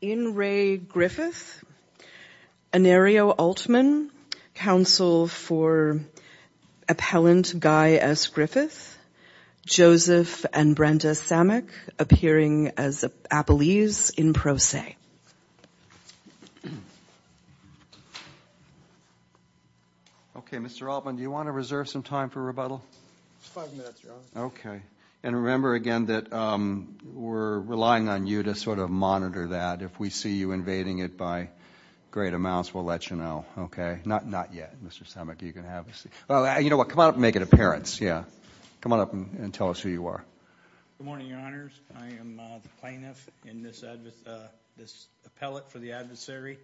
In re Griffith, Anario Altman, counsel for Appellant Guy S. Griffith, Joseph and Brenda Samick appearing as Appellees in pro se. Okay, Mr. Altman, do you want to reserve some time for rebuttal? Five minutes, Your Honor. Okay. And remember again that we're relying on you to sort of monitor that. If we see you invading it by great amounts, we'll let you know. Okay? Not yet. Mr. Samick, you can have a seat. You know what? Come on up and make an appearance. Yeah. Come on up and tell us who you are. Good morning, Your Honors. I am the plaintiff in this Appellate for the Adversary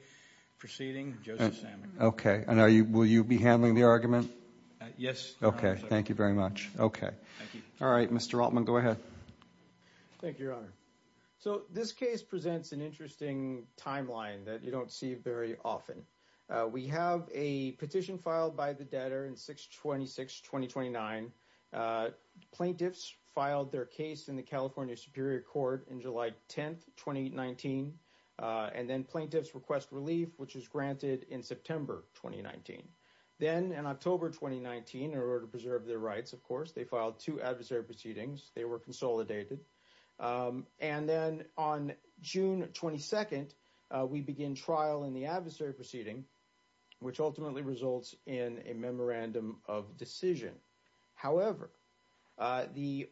proceeding, Joseph Samick. And will you be handling the argument? Yes. Okay. Thank you very much. Thank you. All right. Mr. Altman, go ahead. Thank you, Your Honor. So this case presents an interesting timeline that you don't see very often. We have a petition filed by the debtor in 6-26-2029. Plaintiffs filed their case in the California Superior Court in July 10th, 2019. And then plaintiffs request relief, which is granted in September 2019. Then in October 2019, in order to preserve their rights, of course, they filed two adversary proceedings. They were consolidated. And then on June 22nd, we begin trial in the adversary proceeding, which ultimately results in a memorandum of decision. However, the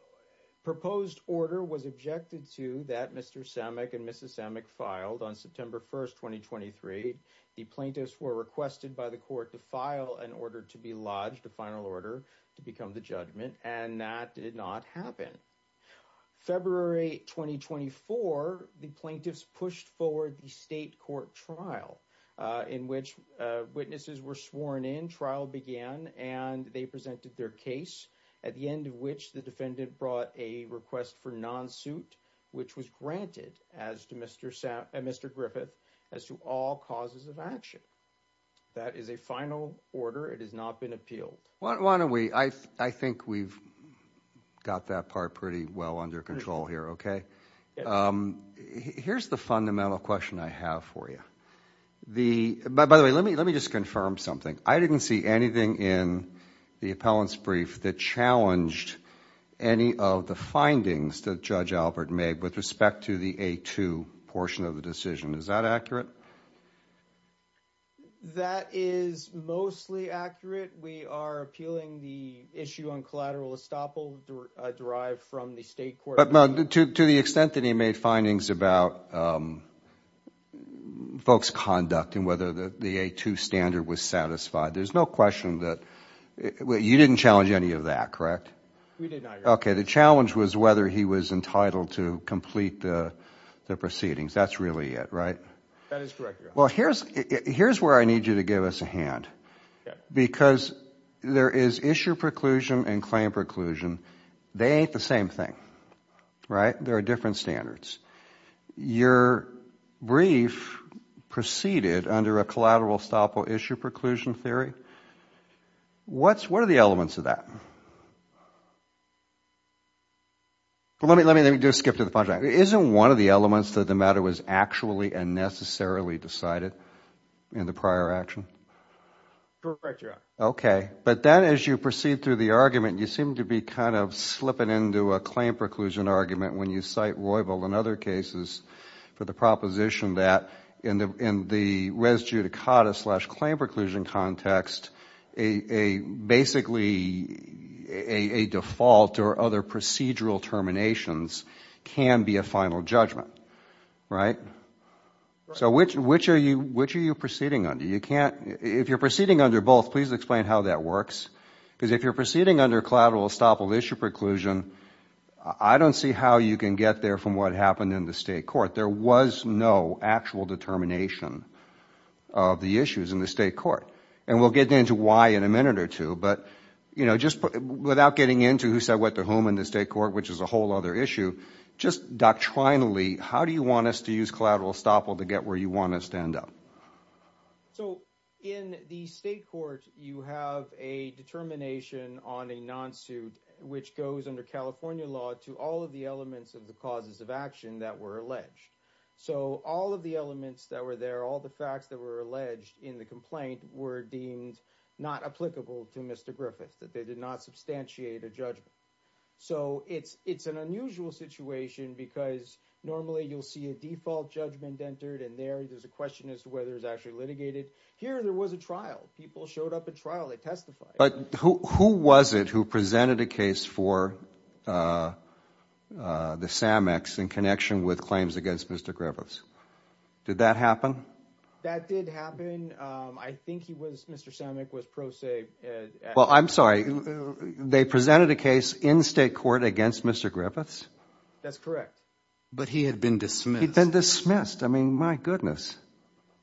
proposed order was objected to that Mr. Samick and Mrs. Samick filed on September 1st, 2023. The plaintiffs were requested by the court to file an order to be lodged, a final order to become the judgment, and that did not happen. February 2024, the plaintiffs pushed forward the state court trial in which witnesses were sworn in. Trial began, and they presented their case, at the end of which the defendant brought a request for non-suit, which was granted as to Mr. Griffith, as to all causes of action. That is a final order. It has not been appealed. Why don't we, I think we've got that part pretty well under control here, okay? Here's the fundamental question I have for you. By the way, let me just confirm something. I didn't see anything in the appellant's brief that challenged any of the findings that Judge Albert made with respect to the A2 portion of the decision. Is that accurate? That is mostly accurate. We are appealing the issue on collateral estoppel derived from the state court. To the extent that he made findings about folks' conduct and whether the A2 standard was satisfied, there's no question that... You didn't challenge any of that, correct? We did not, Your Honor. Okay. The challenge was whether he was entitled to complete the proceedings. That's really it, right? That is correct, Your Honor. Here's where I need you to give us a hand, because there is issue preclusion and claim preclusion. They ain't the same thing, right? There are different standards. Your brief preceded under a collateral estoppel issue preclusion theory. What are the elements of that? Let me just skip to the final point. Isn't one of the elements that the matter was actually and necessarily decided in the prior action? Correct, Your Honor. Okay. Then as you proceed through the argument, you seem to be slipping into a claim preclusion argument when you cite Roybal and other cases for the proposition that in the res judicata slash claim preclusion context, basically a default or other procedural terminations can be a final judgment, right? Which are you proceeding under? If you're proceeding under both, please explain how that works, because if you're proceeding under collateral estoppel issue preclusion, I don't see how you can get there from what happened in the state court. There was no actual determination of the issues in the state court. We'll get into why in a minute or two, but without getting into who said what to whom in the state court, which is a whole other issue, just doctrinally, how do you want us to use collateral estoppel to get where you want us to end up? So, in the state court, you have a determination on a non-suit, which goes under California law to all of the elements of the causes of action that were alleged. So all of the elements that were there, all the facts that were alleged in the complaint were deemed not applicable to Mr. Griffith, that they did not substantiate a judgment. So it's an unusual situation because normally you'll see a default judgment entered and there's a question as to whether it's actually litigated. Here there was a trial. People showed up at trial. They testified. But who was it who presented a case for the Sammocks in connection with claims against Mr. Griffiths? Did that happen? That did happen. I think he was, Mr. Sammock was pro se- Well, I'm sorry. They presented a case in state court against Mr. Griffiths? That's correct. But he had been dismissed. He'd been dismissed. I mean, my goodness.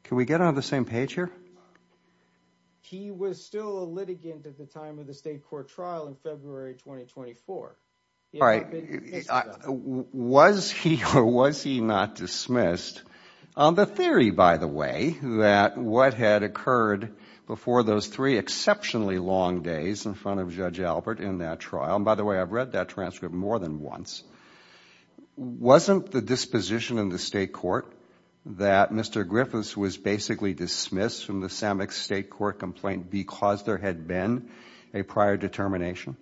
Can we get on the same page here? He was still a litigant at the time of the state court trial in February 2024. All right. Was he or was he not dismissed? The theory, by the way, that what had occurred before those three exceptionally long days in front of Judge Albert in that trial, and by the way, I've read that transcript more than once, wasn't the disposition in the state court that Mr. Griffiths was basically dismissed from the Sammocks state court complaint because there had been a prior determination?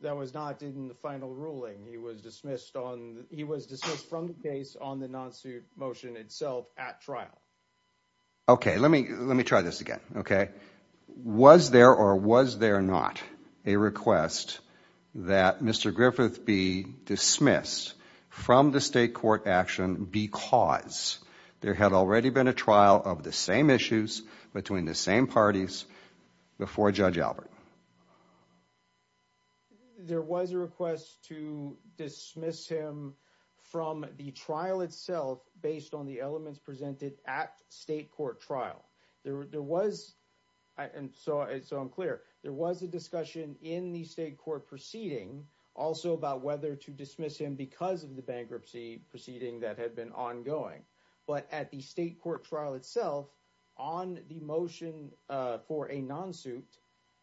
That was not in the final ruling. He was dismissed on, he was dismissed from the case on the non-suit motion itself at trial. Okay. Let me, let me try this again, okay? Was there or was there not a request that Mr. Griffith be dismissed from the state court action because there had already been a trial of the same issues between the same parties before Judge Albert? There was a request to dismiss him from the trial itself based on the elements presented at state court trial. There was, and so I'm clear, there was a discussion in the state court proceeding also about whether to dismiss him because of the bankruptcy proceeding that had been ongoing. But at the state court trial itself, on the motion for a non-suit,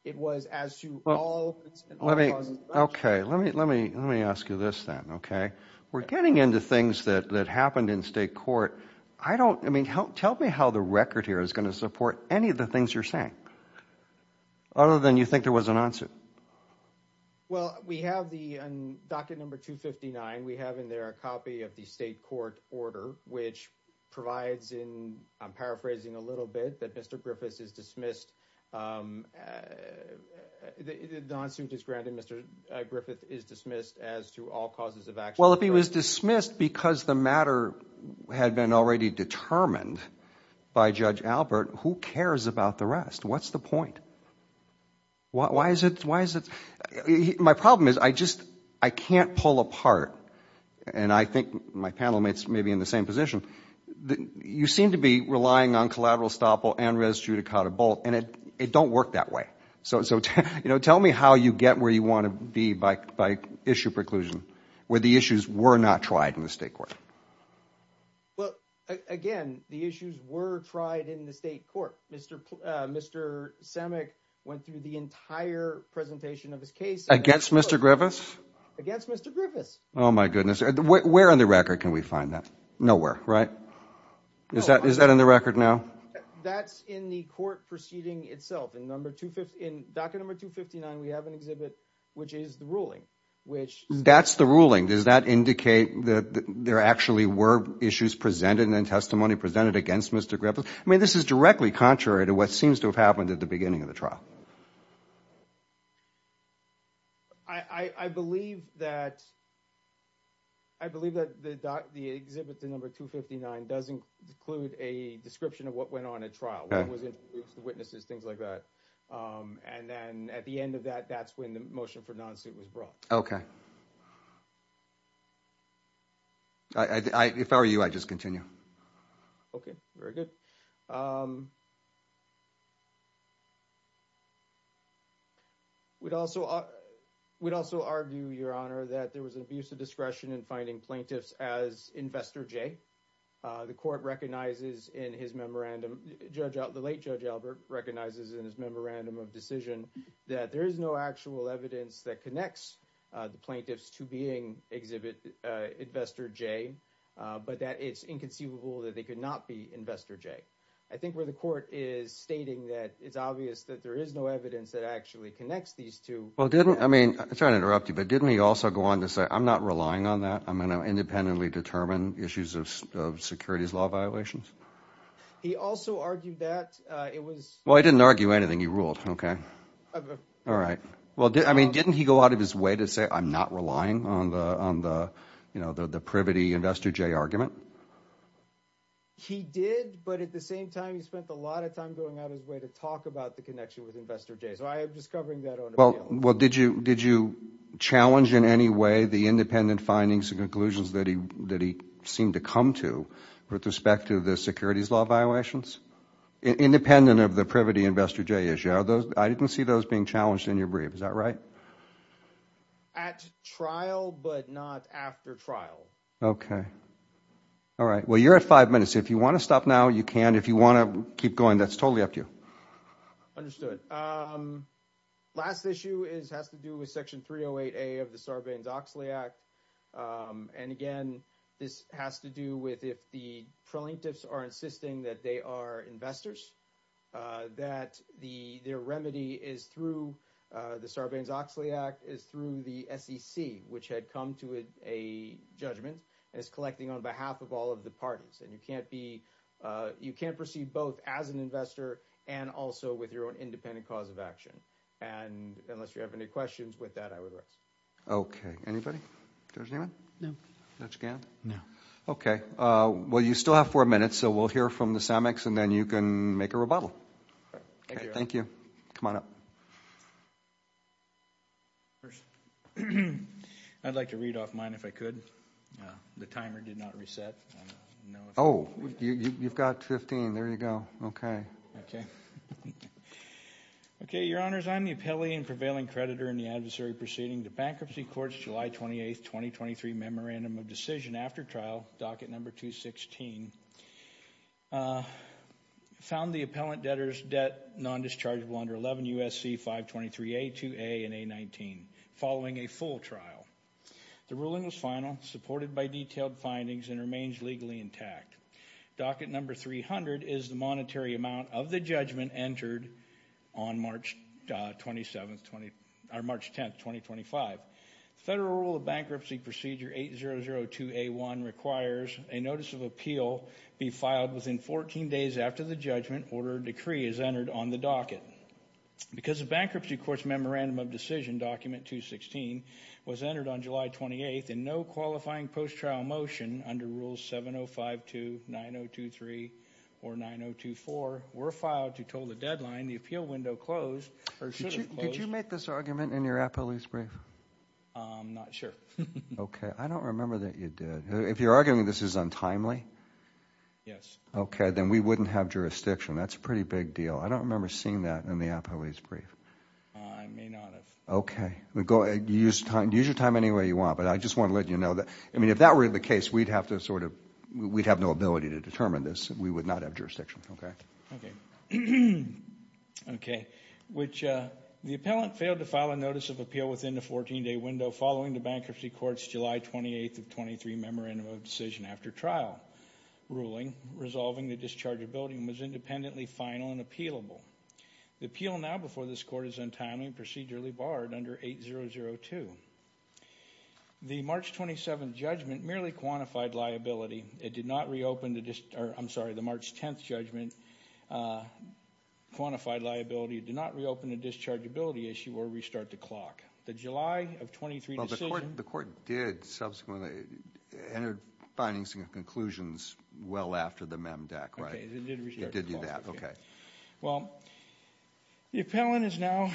it was as to all- Okay. Let me, let me, let me ask you this then, okay? We're getting into things that happened in state court. I don't, I mean, tell me how the record here is going to support any of the things you're saying other than you think there was a non-suit. Well, we have the, on docket number 259, we have in there a copy of the state court order, which provides in, I'm paraphrasing a little bit, that Mr. Griffith is dismissed, the non-suit is granted, Mr. Griffith is dismissed as to all causes of action. Well, if he was dismissed because the matter had been already determined by Judge Albert, who cares about the rest? What's the point? Why is it, why is it, my problem is I just, I can't pull apart, and I think my panel mates may be in the same position. You seem to be relying on collateral estoppel and res judicata bolt, and it, it don't work that way. So, so, you know, tell me how you get where you want to be by, by issue preclusion, where the issues were not tried in the state court. Well, again, the issues were tried in the state court. Mr. Pl, Mr. Samek went through the entire presentation of his case. Against Mr. Griffith? Against Mr. Griffith. Oh my goodness. Where, where on the record can we find that? Nowhere, right? Is that, is that in the record now? That's in the court proceeding itself, in number, in docket number 259 we have an exhibit which is the ruling, which. That's the ruling. Does that indicate that there actually were issues presented and then testimony presented against Mr. Griffith? I mean this is directly contrary to what seems to have happened at the beginning of the trial. I, I, I believe that, I believe that the doc, the exhibit to number 259 does include a description of what went on at trial. Okay. Witnesses, things like that. Um, and then at the end of that, that's when the motion for non-suit was brought. Okay. I, I, I, if I were you, I'd just continue. Okay. Very good. Um, we'd also, we'd also argue, Your Honor, that there was an abuse of discretion in finding plaintiffs as Investor J. Uh, the court recognizes in his memorandum, Judge, the late Judge Albert recognizes in his memorandum of decision that there is no actual evidence that connects the plaintiffs to being exhibit, uh, Investor J, uh, but that it's inconceivable that they could not be Investor J. I think where the court is stating that it's obvious that there is no evidence that actually connects these two. Well, didn't, I mean, sorry to interrupt you, but didn't he also go on to say, I'm not relying on that. I'm going to independently determine issues of, of securities law violations. He also argued that, uh, it was, well, I didn't argue anything. He ruled. Okay. All right. Well, I mean, didn't he go out of his way to say, I'm not relying on the, on the, you know, the, the privity Investor J argument. He did, but at the same time, he spent a lot of time going out of his way to talk about the connection with Investor J. So I am just covering that on. Well, well, did you, did you challenge in any way the independent findings and conclusions that he, that he seemed to come to with respect to the securities law violations? Independent of the privity Investor J issue, are those, I didn't see those being challenged in your brief. Is that right? At trial, but not after trial. Okay. All right. Well, you're at five minutes. If you want to stop now, you can. If you want to keep going, that's totally up to you. Understood. Last issue is, has to do with section 308A of the Sarbanes-Oxley Act. And again, this has to do with if the plaintiffs are insisting that they are investors, that the, their remedy is through the Sarbanes-Oxley Act is through the SEC, which had come to a judgment as collecting on behalf of all of the parties. And you can't be, you can't proceed both as an investor and also with your own independent cause of action. And unless you have any questions with that, I would arrest you. Okay. Anybody? Judge Newman? No. Judge Gant? No. Okay. Well, you still have four minutes, so we'll hear from the CEMEX and then you can make a rebuttal. All right. Thank you. Thank you. Come on up. I'd like to read off mine if I could. The timer did not reset. Oh, you've got 15. There you go. Okay. Okay. Your Honors, I'm the appellee and prevailing creditor in the adversary proceeding to Bankruptcy Courts July 28, 2023 Memorandum of Decision after trial, docket number 216, found the appellant debtor's debt non-dischargeable under 11 U.S.C. 523A, 2A, and A-19 following a full trial. The ruling was final, supported by detailed findings, and remains legally intact. Docket number 300 is the monetary amount of the judgment entered on March 10, 2025. Federal Rule of Bankruptcy Procedure 8002A1 requires a notice of appeal be filed within 14 days after the judgment order decree is entered on the docket. Because the Bankruptcy Courts Memorandum of Decision document 216 was entered on July 28, and no qualifying post-trial motion under Rules 7052, 9023, or 9024 were filed to toll the deadline, the appeal window closed or should have closed. Did you make this argument in your appellee's brief? I'm not sure. Okay. I don't remember that you did. If you're arguing this is untimely? Yes. Okay. Then we wouldn't have jurisdiction. That's a pretty big deal. I don't remember seeing that in the appellee's brief. I may not have. Use your time any way you want, but I just want to let you know that, I mean, if that were the case, we'd have to sort of, we'd have no ability to determine this. We would not have jurisdiction, okay? Okay. Okay. Which, the appellant failed to file a notice of appeal within the 14-day window following the Bankruptcy Courts July 28 of 23 Memorandum of Decision after trial. The court's ruling resolving the dischargeability was independently final and appealable. The appeal now before this court is untimely and procedurally barred under 8002. The March 27th judgment merely quantified liability. It did not reopen the, I'm sorry, the March 10th judgment quantified liability. It did not reopen the dischargeability issue or restart the clock. The July of 23 decision. Well, the court did subsequently enter findings and conclusions well after the MEMDAC, right? Okay, it did restart the clock. It did do that, okay. Well, the appellant is now,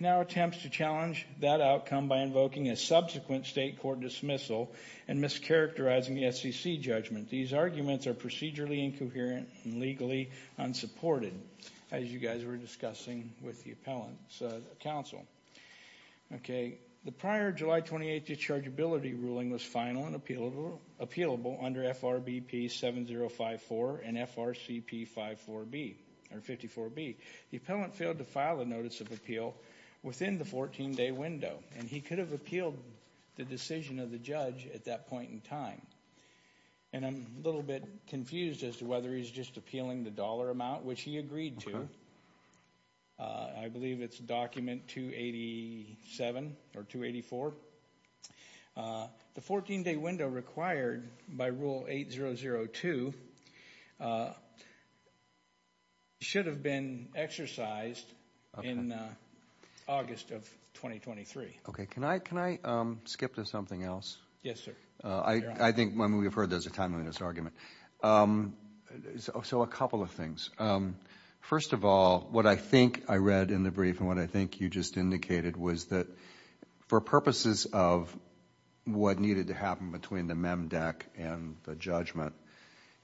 now attempts to challenge that outcome by invoking a subsequent state court dismissal and mischaracterizing the SEC judgment. These arguments are procedurally incoherent and legally unsupported, as you guys were discussing with the appellant's counsel, okay. The prior July 28 dischargeability ruling was final and appealable under FRBP 7054 and FRCP 54B. The appellant failed to file a notice of appeal within the 14-day window, and he could have appealed the decision of the judge at that point in time. And I'm a little bit confused as to whether he's just appealing the dollar amount, which he agreed to. I believe it's document 287 or 284. The 14-day window required by rule 8002 should have been exercised in August of 2023. Okay, can I skip to something else? Yes, sir. I think, I mean, we've heard this a time in this argument. So a couple of things. First of all, what I think I read in the brief and what I think you just indicated was that for purposes of what needed to happen between the MEMDEC and the judgment,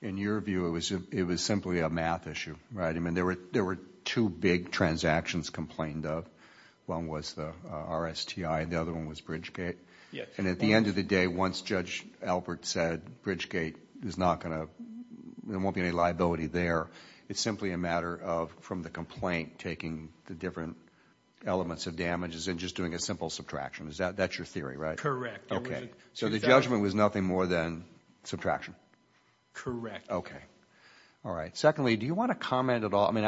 in your view, it was simply a math issue, right? I mean, there were two big transactions complained of. One was the RSTI and the other one was Bridgegate. Yes. And at the end of the day, once Judge Albert said Bridgegate is not going to, there won't be any liability there, it's simply a matter of, from the complaint, taking the different elements of damages and just doing a simple subtraction. That's your theory, right? Correct. Okay. So the judgment was nothing more than subtraction? Correct. Okay. All right. Secondly, do you want to comment at all, I mean,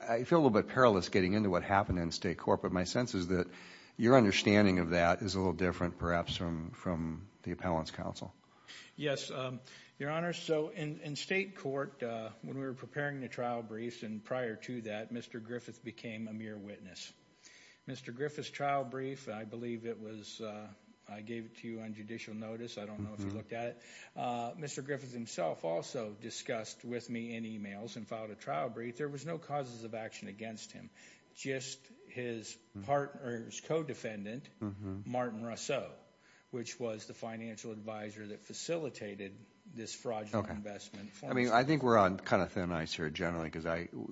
I feel a little bit perilous getting into what happened in State Court, but my sense is that your understanding of that is a little different, perhaps, from the Appellant's counsel. Yes, Your Honor. So in State Court, when we were preparing the trial briefs and prior to that, Mr. Griffith became a mere witness. Mr. Griffith's trial brief, I believe it was, I gave it to you on judicial notice, I don't know if you looked at it, Mr. Griffith himself also discussed with me in emails and filed a trial brief. There was no causes of action against him, just his partner's co-defendant, Martin Russo, which was the financial advisor that facilitated this fraudulent investment. I think we're on kind of thin ice here, generally, because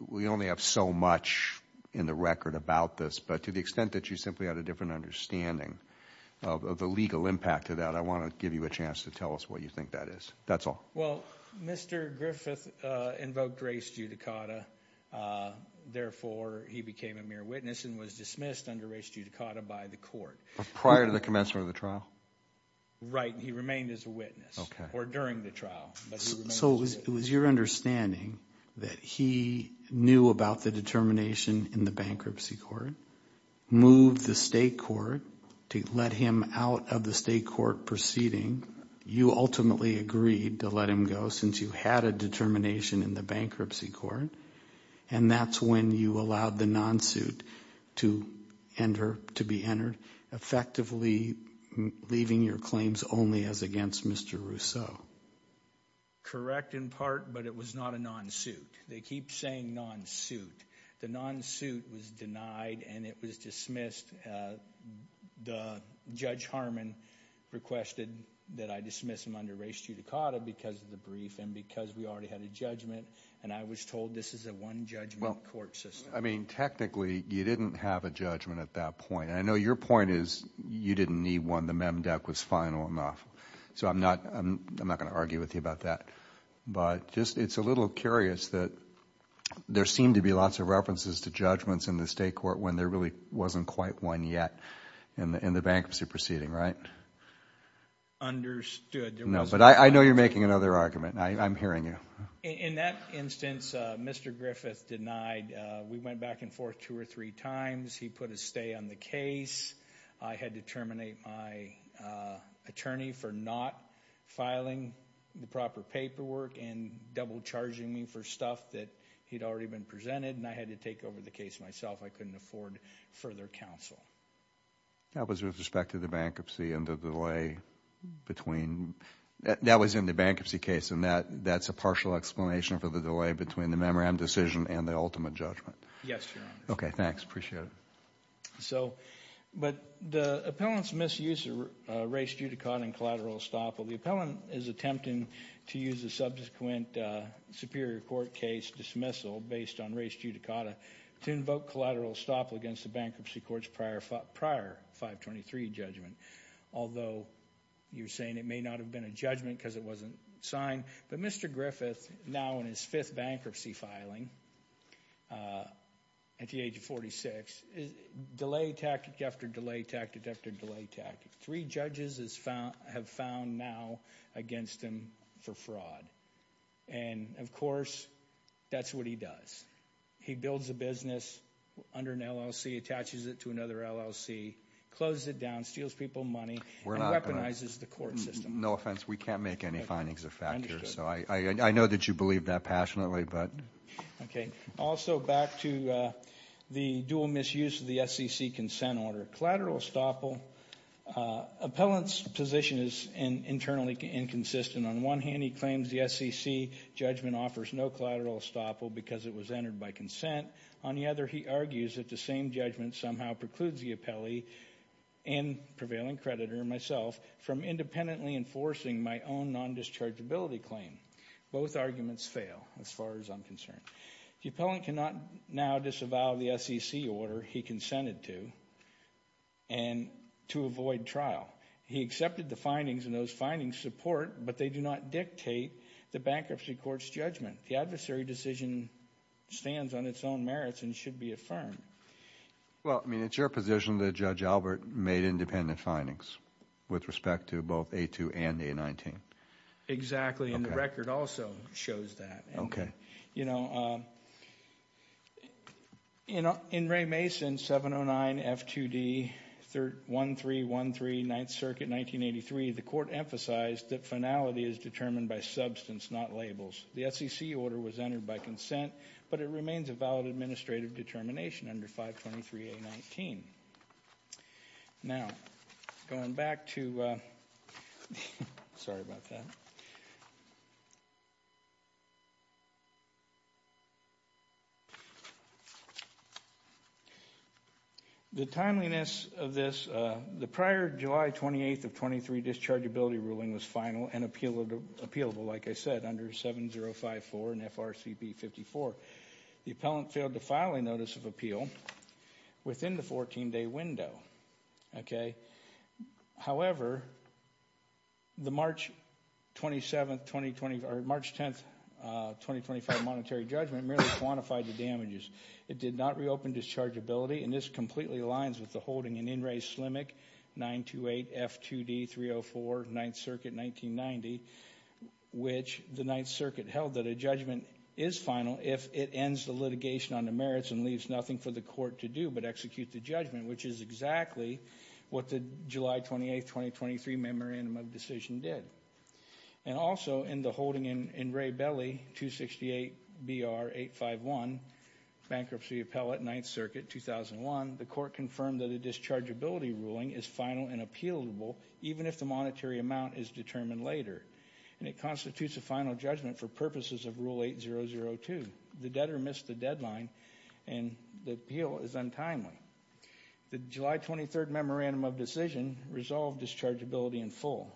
we only have so much in the record about this, but to the extent that you simply had a different understanding of the legal impact of that, I want to give you a chance to tell us what you think that is. That's all. Well, Mr. Griffith invoked res judicata, therefore, he became a mere witness and was dismissed under res judicata by the court. Prior to the commencement of the trial? Right, he remained as a witness, or during the trial. So it was your understanding that he knew about the determination in the bankruptcy court, moved the State Court to let him out of the State Court proceeding, you ultimately agreed to let him go since you had a determination in the bankruptcy court, and that's when you allowed the non-suit to enter, to be entered, effectively leaving your claims only as against Mr. Russo. Correct in part, but it was not a non-suit. They keep saying non-suit. The non-suit was denied and it was dismissed. The Judge Harmon requested that I dismiss him under res judicata because of the brief and because we already had a judgment, and I was told this is a one-judgment court system. I mean, technically, you didn't have a judgment at that point, and I know your point is you didn't need one, the mem dec was final enough. So I'm not going to argue with you about that, but it's a little curious that there seemed to be lots of references to judgments in the State Court when there really wasn't quite one yet in the bankruptcy proceeding, right? Understood. No, but I know you're making another argument. I'm hearing you. In that instance, Mr. Griffith denied. We went back and forth two or three times. He put a stay on the case. I had to terminate my attorney for not filing the proper paperwork and double charging me for stuff that he'd already been presented, and I had to take over the case myself. I couldn't afford further counsel. That was with respect to the bankruptcy and the delay between. That was in the bankruptcy case, and that's a partial explanation for the delay between the memorandum decision and the ultimate judgment. Yes, Your Honor. Okay, thanks. Appreciate it. So, but the appellant's misuse of res judicata and collateral estoppel, the appellant is attempting to use a subsequent Superior Court case dismissal based on res judicata to invoke collateral estoppel against the bankruptcy court's prior 523 judgment, although you're saying it may not have been a judgment because it wasn't signed. But Mr. Griffith, now in his fifth bankruptcy filing at the age of 46, delay tactic after delay tactic after delay tactic. Three judges have found now against him for fraud, and of course, that's what he does. He builds a business under an LLC, attaches it to another LLC, closes it down, steals people money, and weaponizes the court system. No offense. We can't make any findings of fact here, so I know that you believe that passionately, but. Okay. Also back to the dual misuse of the SEC consent order, collateral estoppel, appellant's position is internally inconsistent. On one hand, he claims the SEC judgment offers no collateral estoppel because it was entered by consent. On the other, he argues that the same judgment somehow precludes the appellee and prevailing creditor, myself, from independently enforcing my own non-dischargeability claim. Both arguments fail as far as I'm concerned. The appellant cannot now disavow the SEC order he consented to, and to avoid trial. He accepted the findings, and those findings support, but they do not dictate the bankruptcy court's judgment. The adversary decision stands on its own merits and should be affirmed. Well, I mean, it's your position that Judge Albert made independent findings with respect to both A2 and A19. Exactly, and the record also shows that. Okay. You know, in Ray Mason 709 F2D 1313 Ninth Circuit 1983, the court emphasized that finality is determined by substance, not labels. The SEC order was entered by consent, but it remains a valid administrative determination under 523 A19. Now, going back to, sorry about that. The timeliness of this, the prior July 28th of 23 dischargeability ruling was final and appealable, like I said, under 7054 and FRCP 54. The appellant failed to file a notice of appeal within the 14-day window, okay? However, the March 10th, 2025 monetary judgment merely quantified the damages. It did not reopen dischargeability, and this completely aligns with the holding in In Re 928 F2D 304 Ninth Circuit 1990, which the Ninth Circuit held that a judgment is final if it ends the litigation on the merits and leaves nothing for the court to do but execute the judgment, which is exactly what the July 28th, 2023 memorandum of decision did. And also, in the holding in Ray Belley 268 BR 851 Bankruptcy Appellate Ninth Circuit 2001, the court confirmed that a dischargeability ruling is final and appealable even if the monetary amount is determined later, and it constitutes a final judgment for purposes of Rule 8002. The debtor missed the deadline, and the appeal is untimely. The July 23rd memorandum of decision resolved dischargeability in full.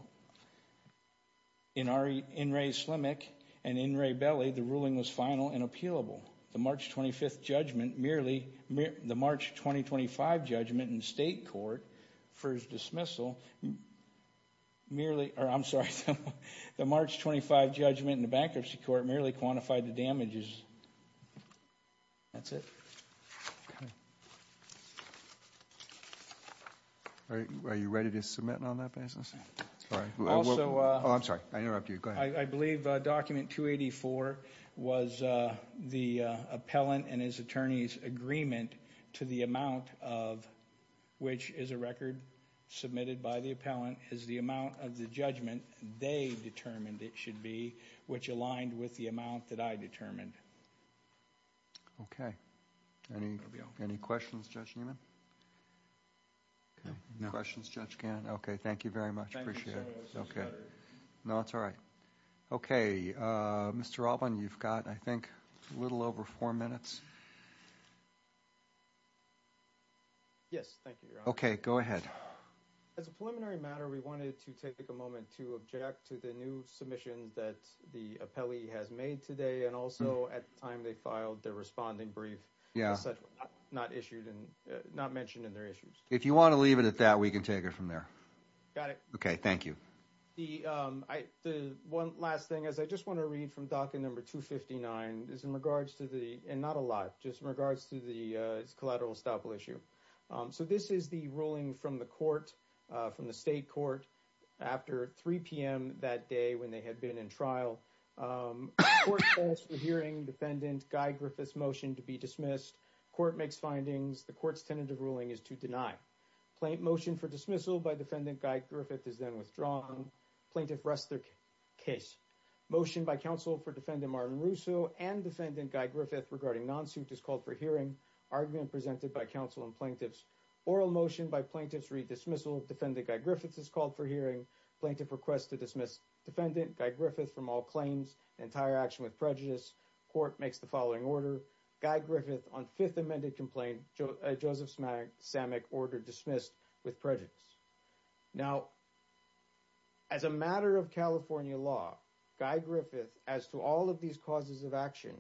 In In Re Slimick and In Re Belley, the ruling was final and appealable. The March 25th judgment merely, the March 2025 judgment in the state court for his dismissal merely, or I'm sorry, the March 25th judgment in the bankruptcy court merely quantified the damages. That's it. Are you ready to submit on that basis? Sorry. Also. Oh, I'm sorry. I interrupted you. Go ahead. I believe document 284 was the appellant and his attorney's agreement to the amount of which is a record submitted by the appellant is the amount of the judgment they determined it should be, which aligned with the amount that I determined. Okay. Any questions, Judge Newman? No. No questions, Judge Gannon? Okay. Thank you very much. Appreciate it. Thank you, sir. That's all right. Okay. Mr. Alban, you've got, I think, a little over four minutes. Yes. Thank you, Your Honor. Okay. Go ahead. As a preliminary matter, we wanted to take a moment to object to the new submission that the appellee has made today and also at the time they filed their responding brief. Yeah. Not issued and not mentioned in their issues. If you want to leave it at that, we can take it from there. Got it. Okay. Thank you. The one last thing, as I just want to read from docket number 259, is in regards to the and not a lot, just in regards to the collateral estoppel issue. So this is the ruling from the court, from the state court, after 3 p.m. that day when they had been in trial. The court says, we're hearing defendant Guy Griffith's motion to be dismissed. Court makes findings. The court's tentative ruling is to deny. Motion for dismissal by defendant Guy Griffith is then withdrawn. Plaintiff rests their case. Motion by counsel for defendant Martin Russo and defendant Guy Griffith regarding non-suit is called for hearing. Argument presented by counsel and plaintiffs. Oral motion by plaintiffs read dismissal. Defendant Guy Griffith is called for hearing. Plaintiff requests to dismiss defendant Guy Griffith from all claims. Entire action with prejudice. Court makes the following order. As a matter of California law, Guy Griffith, as to all of these causes of action,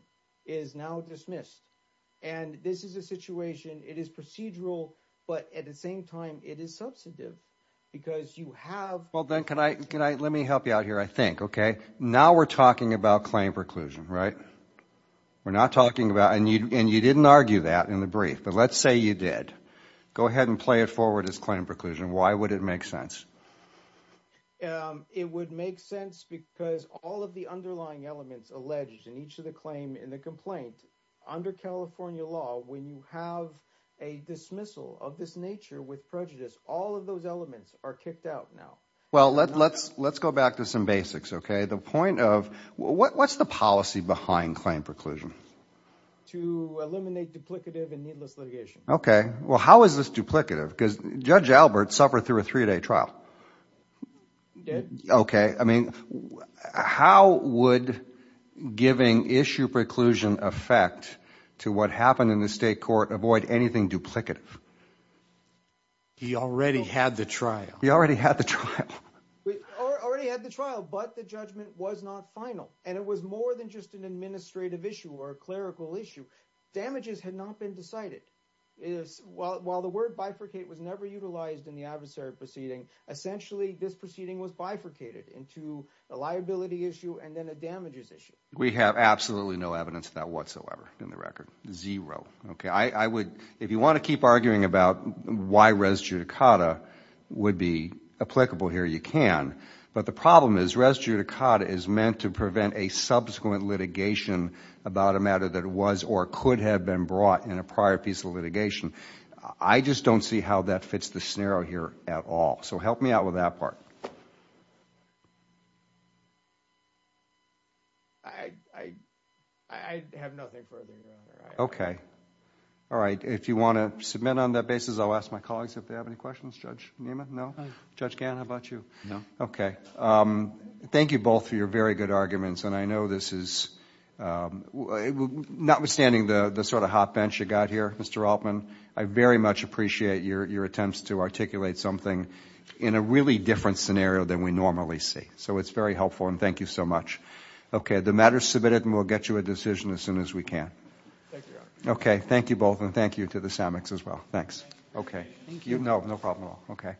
is now dismissed. And this is a situation, it is procedural, but at the same time, it is substantive. Because you have... Well then, can I, can I, let me help you out here, I think, okay? Now we're talking about claim preclusion, right? We're not talking about, and you didn't argue that in the brief, but let's say you did. Go ahead and play it forward as claim preclusion. Why would it make sense? It would make sense because all of the underlying elements alleged in each of the claim in the complaint, under California law, when you have a dismissal of this nature with prejudice, all of those elements are kicked out now. Well, let's go back to some basics, okay? The point of, what's the policy behind claim preclusion? To eliminate duplicative and needless litigation. Okay. Well, how is this duplicative? Because Judge Albert suffered through a three-day trial. He did. Okay. I mean, how would giving issue preclusion affect to what happened in the state court avoid anything duplicative? He already had the trial. He already had the trial. We already had the trial, but the judgment was not final. And it was more than just an administrative issue or a clerical issue. Damages had not been decided. While the word bifurcate was never utilized in the adversary proceeding, essentially this proceeding was bifurcated into a liability issue and then a damages issue. We have absolutely no evidence of that whatsoever in the record. Zero. Okay. I would, if you want to keep arguing about why res judicata would be applicable here, you can. But the problem is, res judicata is meant to prevent a subsequent litigation about a matter that was or could have been brought in a prior piece of litigation. I just don't see how that fits the scenario here at all. So help me out with that part. I have nothing further to add. Okay. All right. If you want to submit on that basis, I'll ask my colleagues if they have any questions. Judge Niemann, no? No. Judge Gant, how about you? No. Okay. Thank you both for your very good arguments. And I know this is, notwithstanding the sort of hot bench you got here, Mr. Altman, I very much appreciate your attempts to articulate something in a really different scenario than we normally see. So it's very helpful. And thank you so much. Okay. The matter is submitted, and we'll get you a decision as soon as we can. Thank you. Okay. Thank you both. And thank you to the SAMICs as well. Thanks. Okay. Thank you. No, no problem at all. Okay.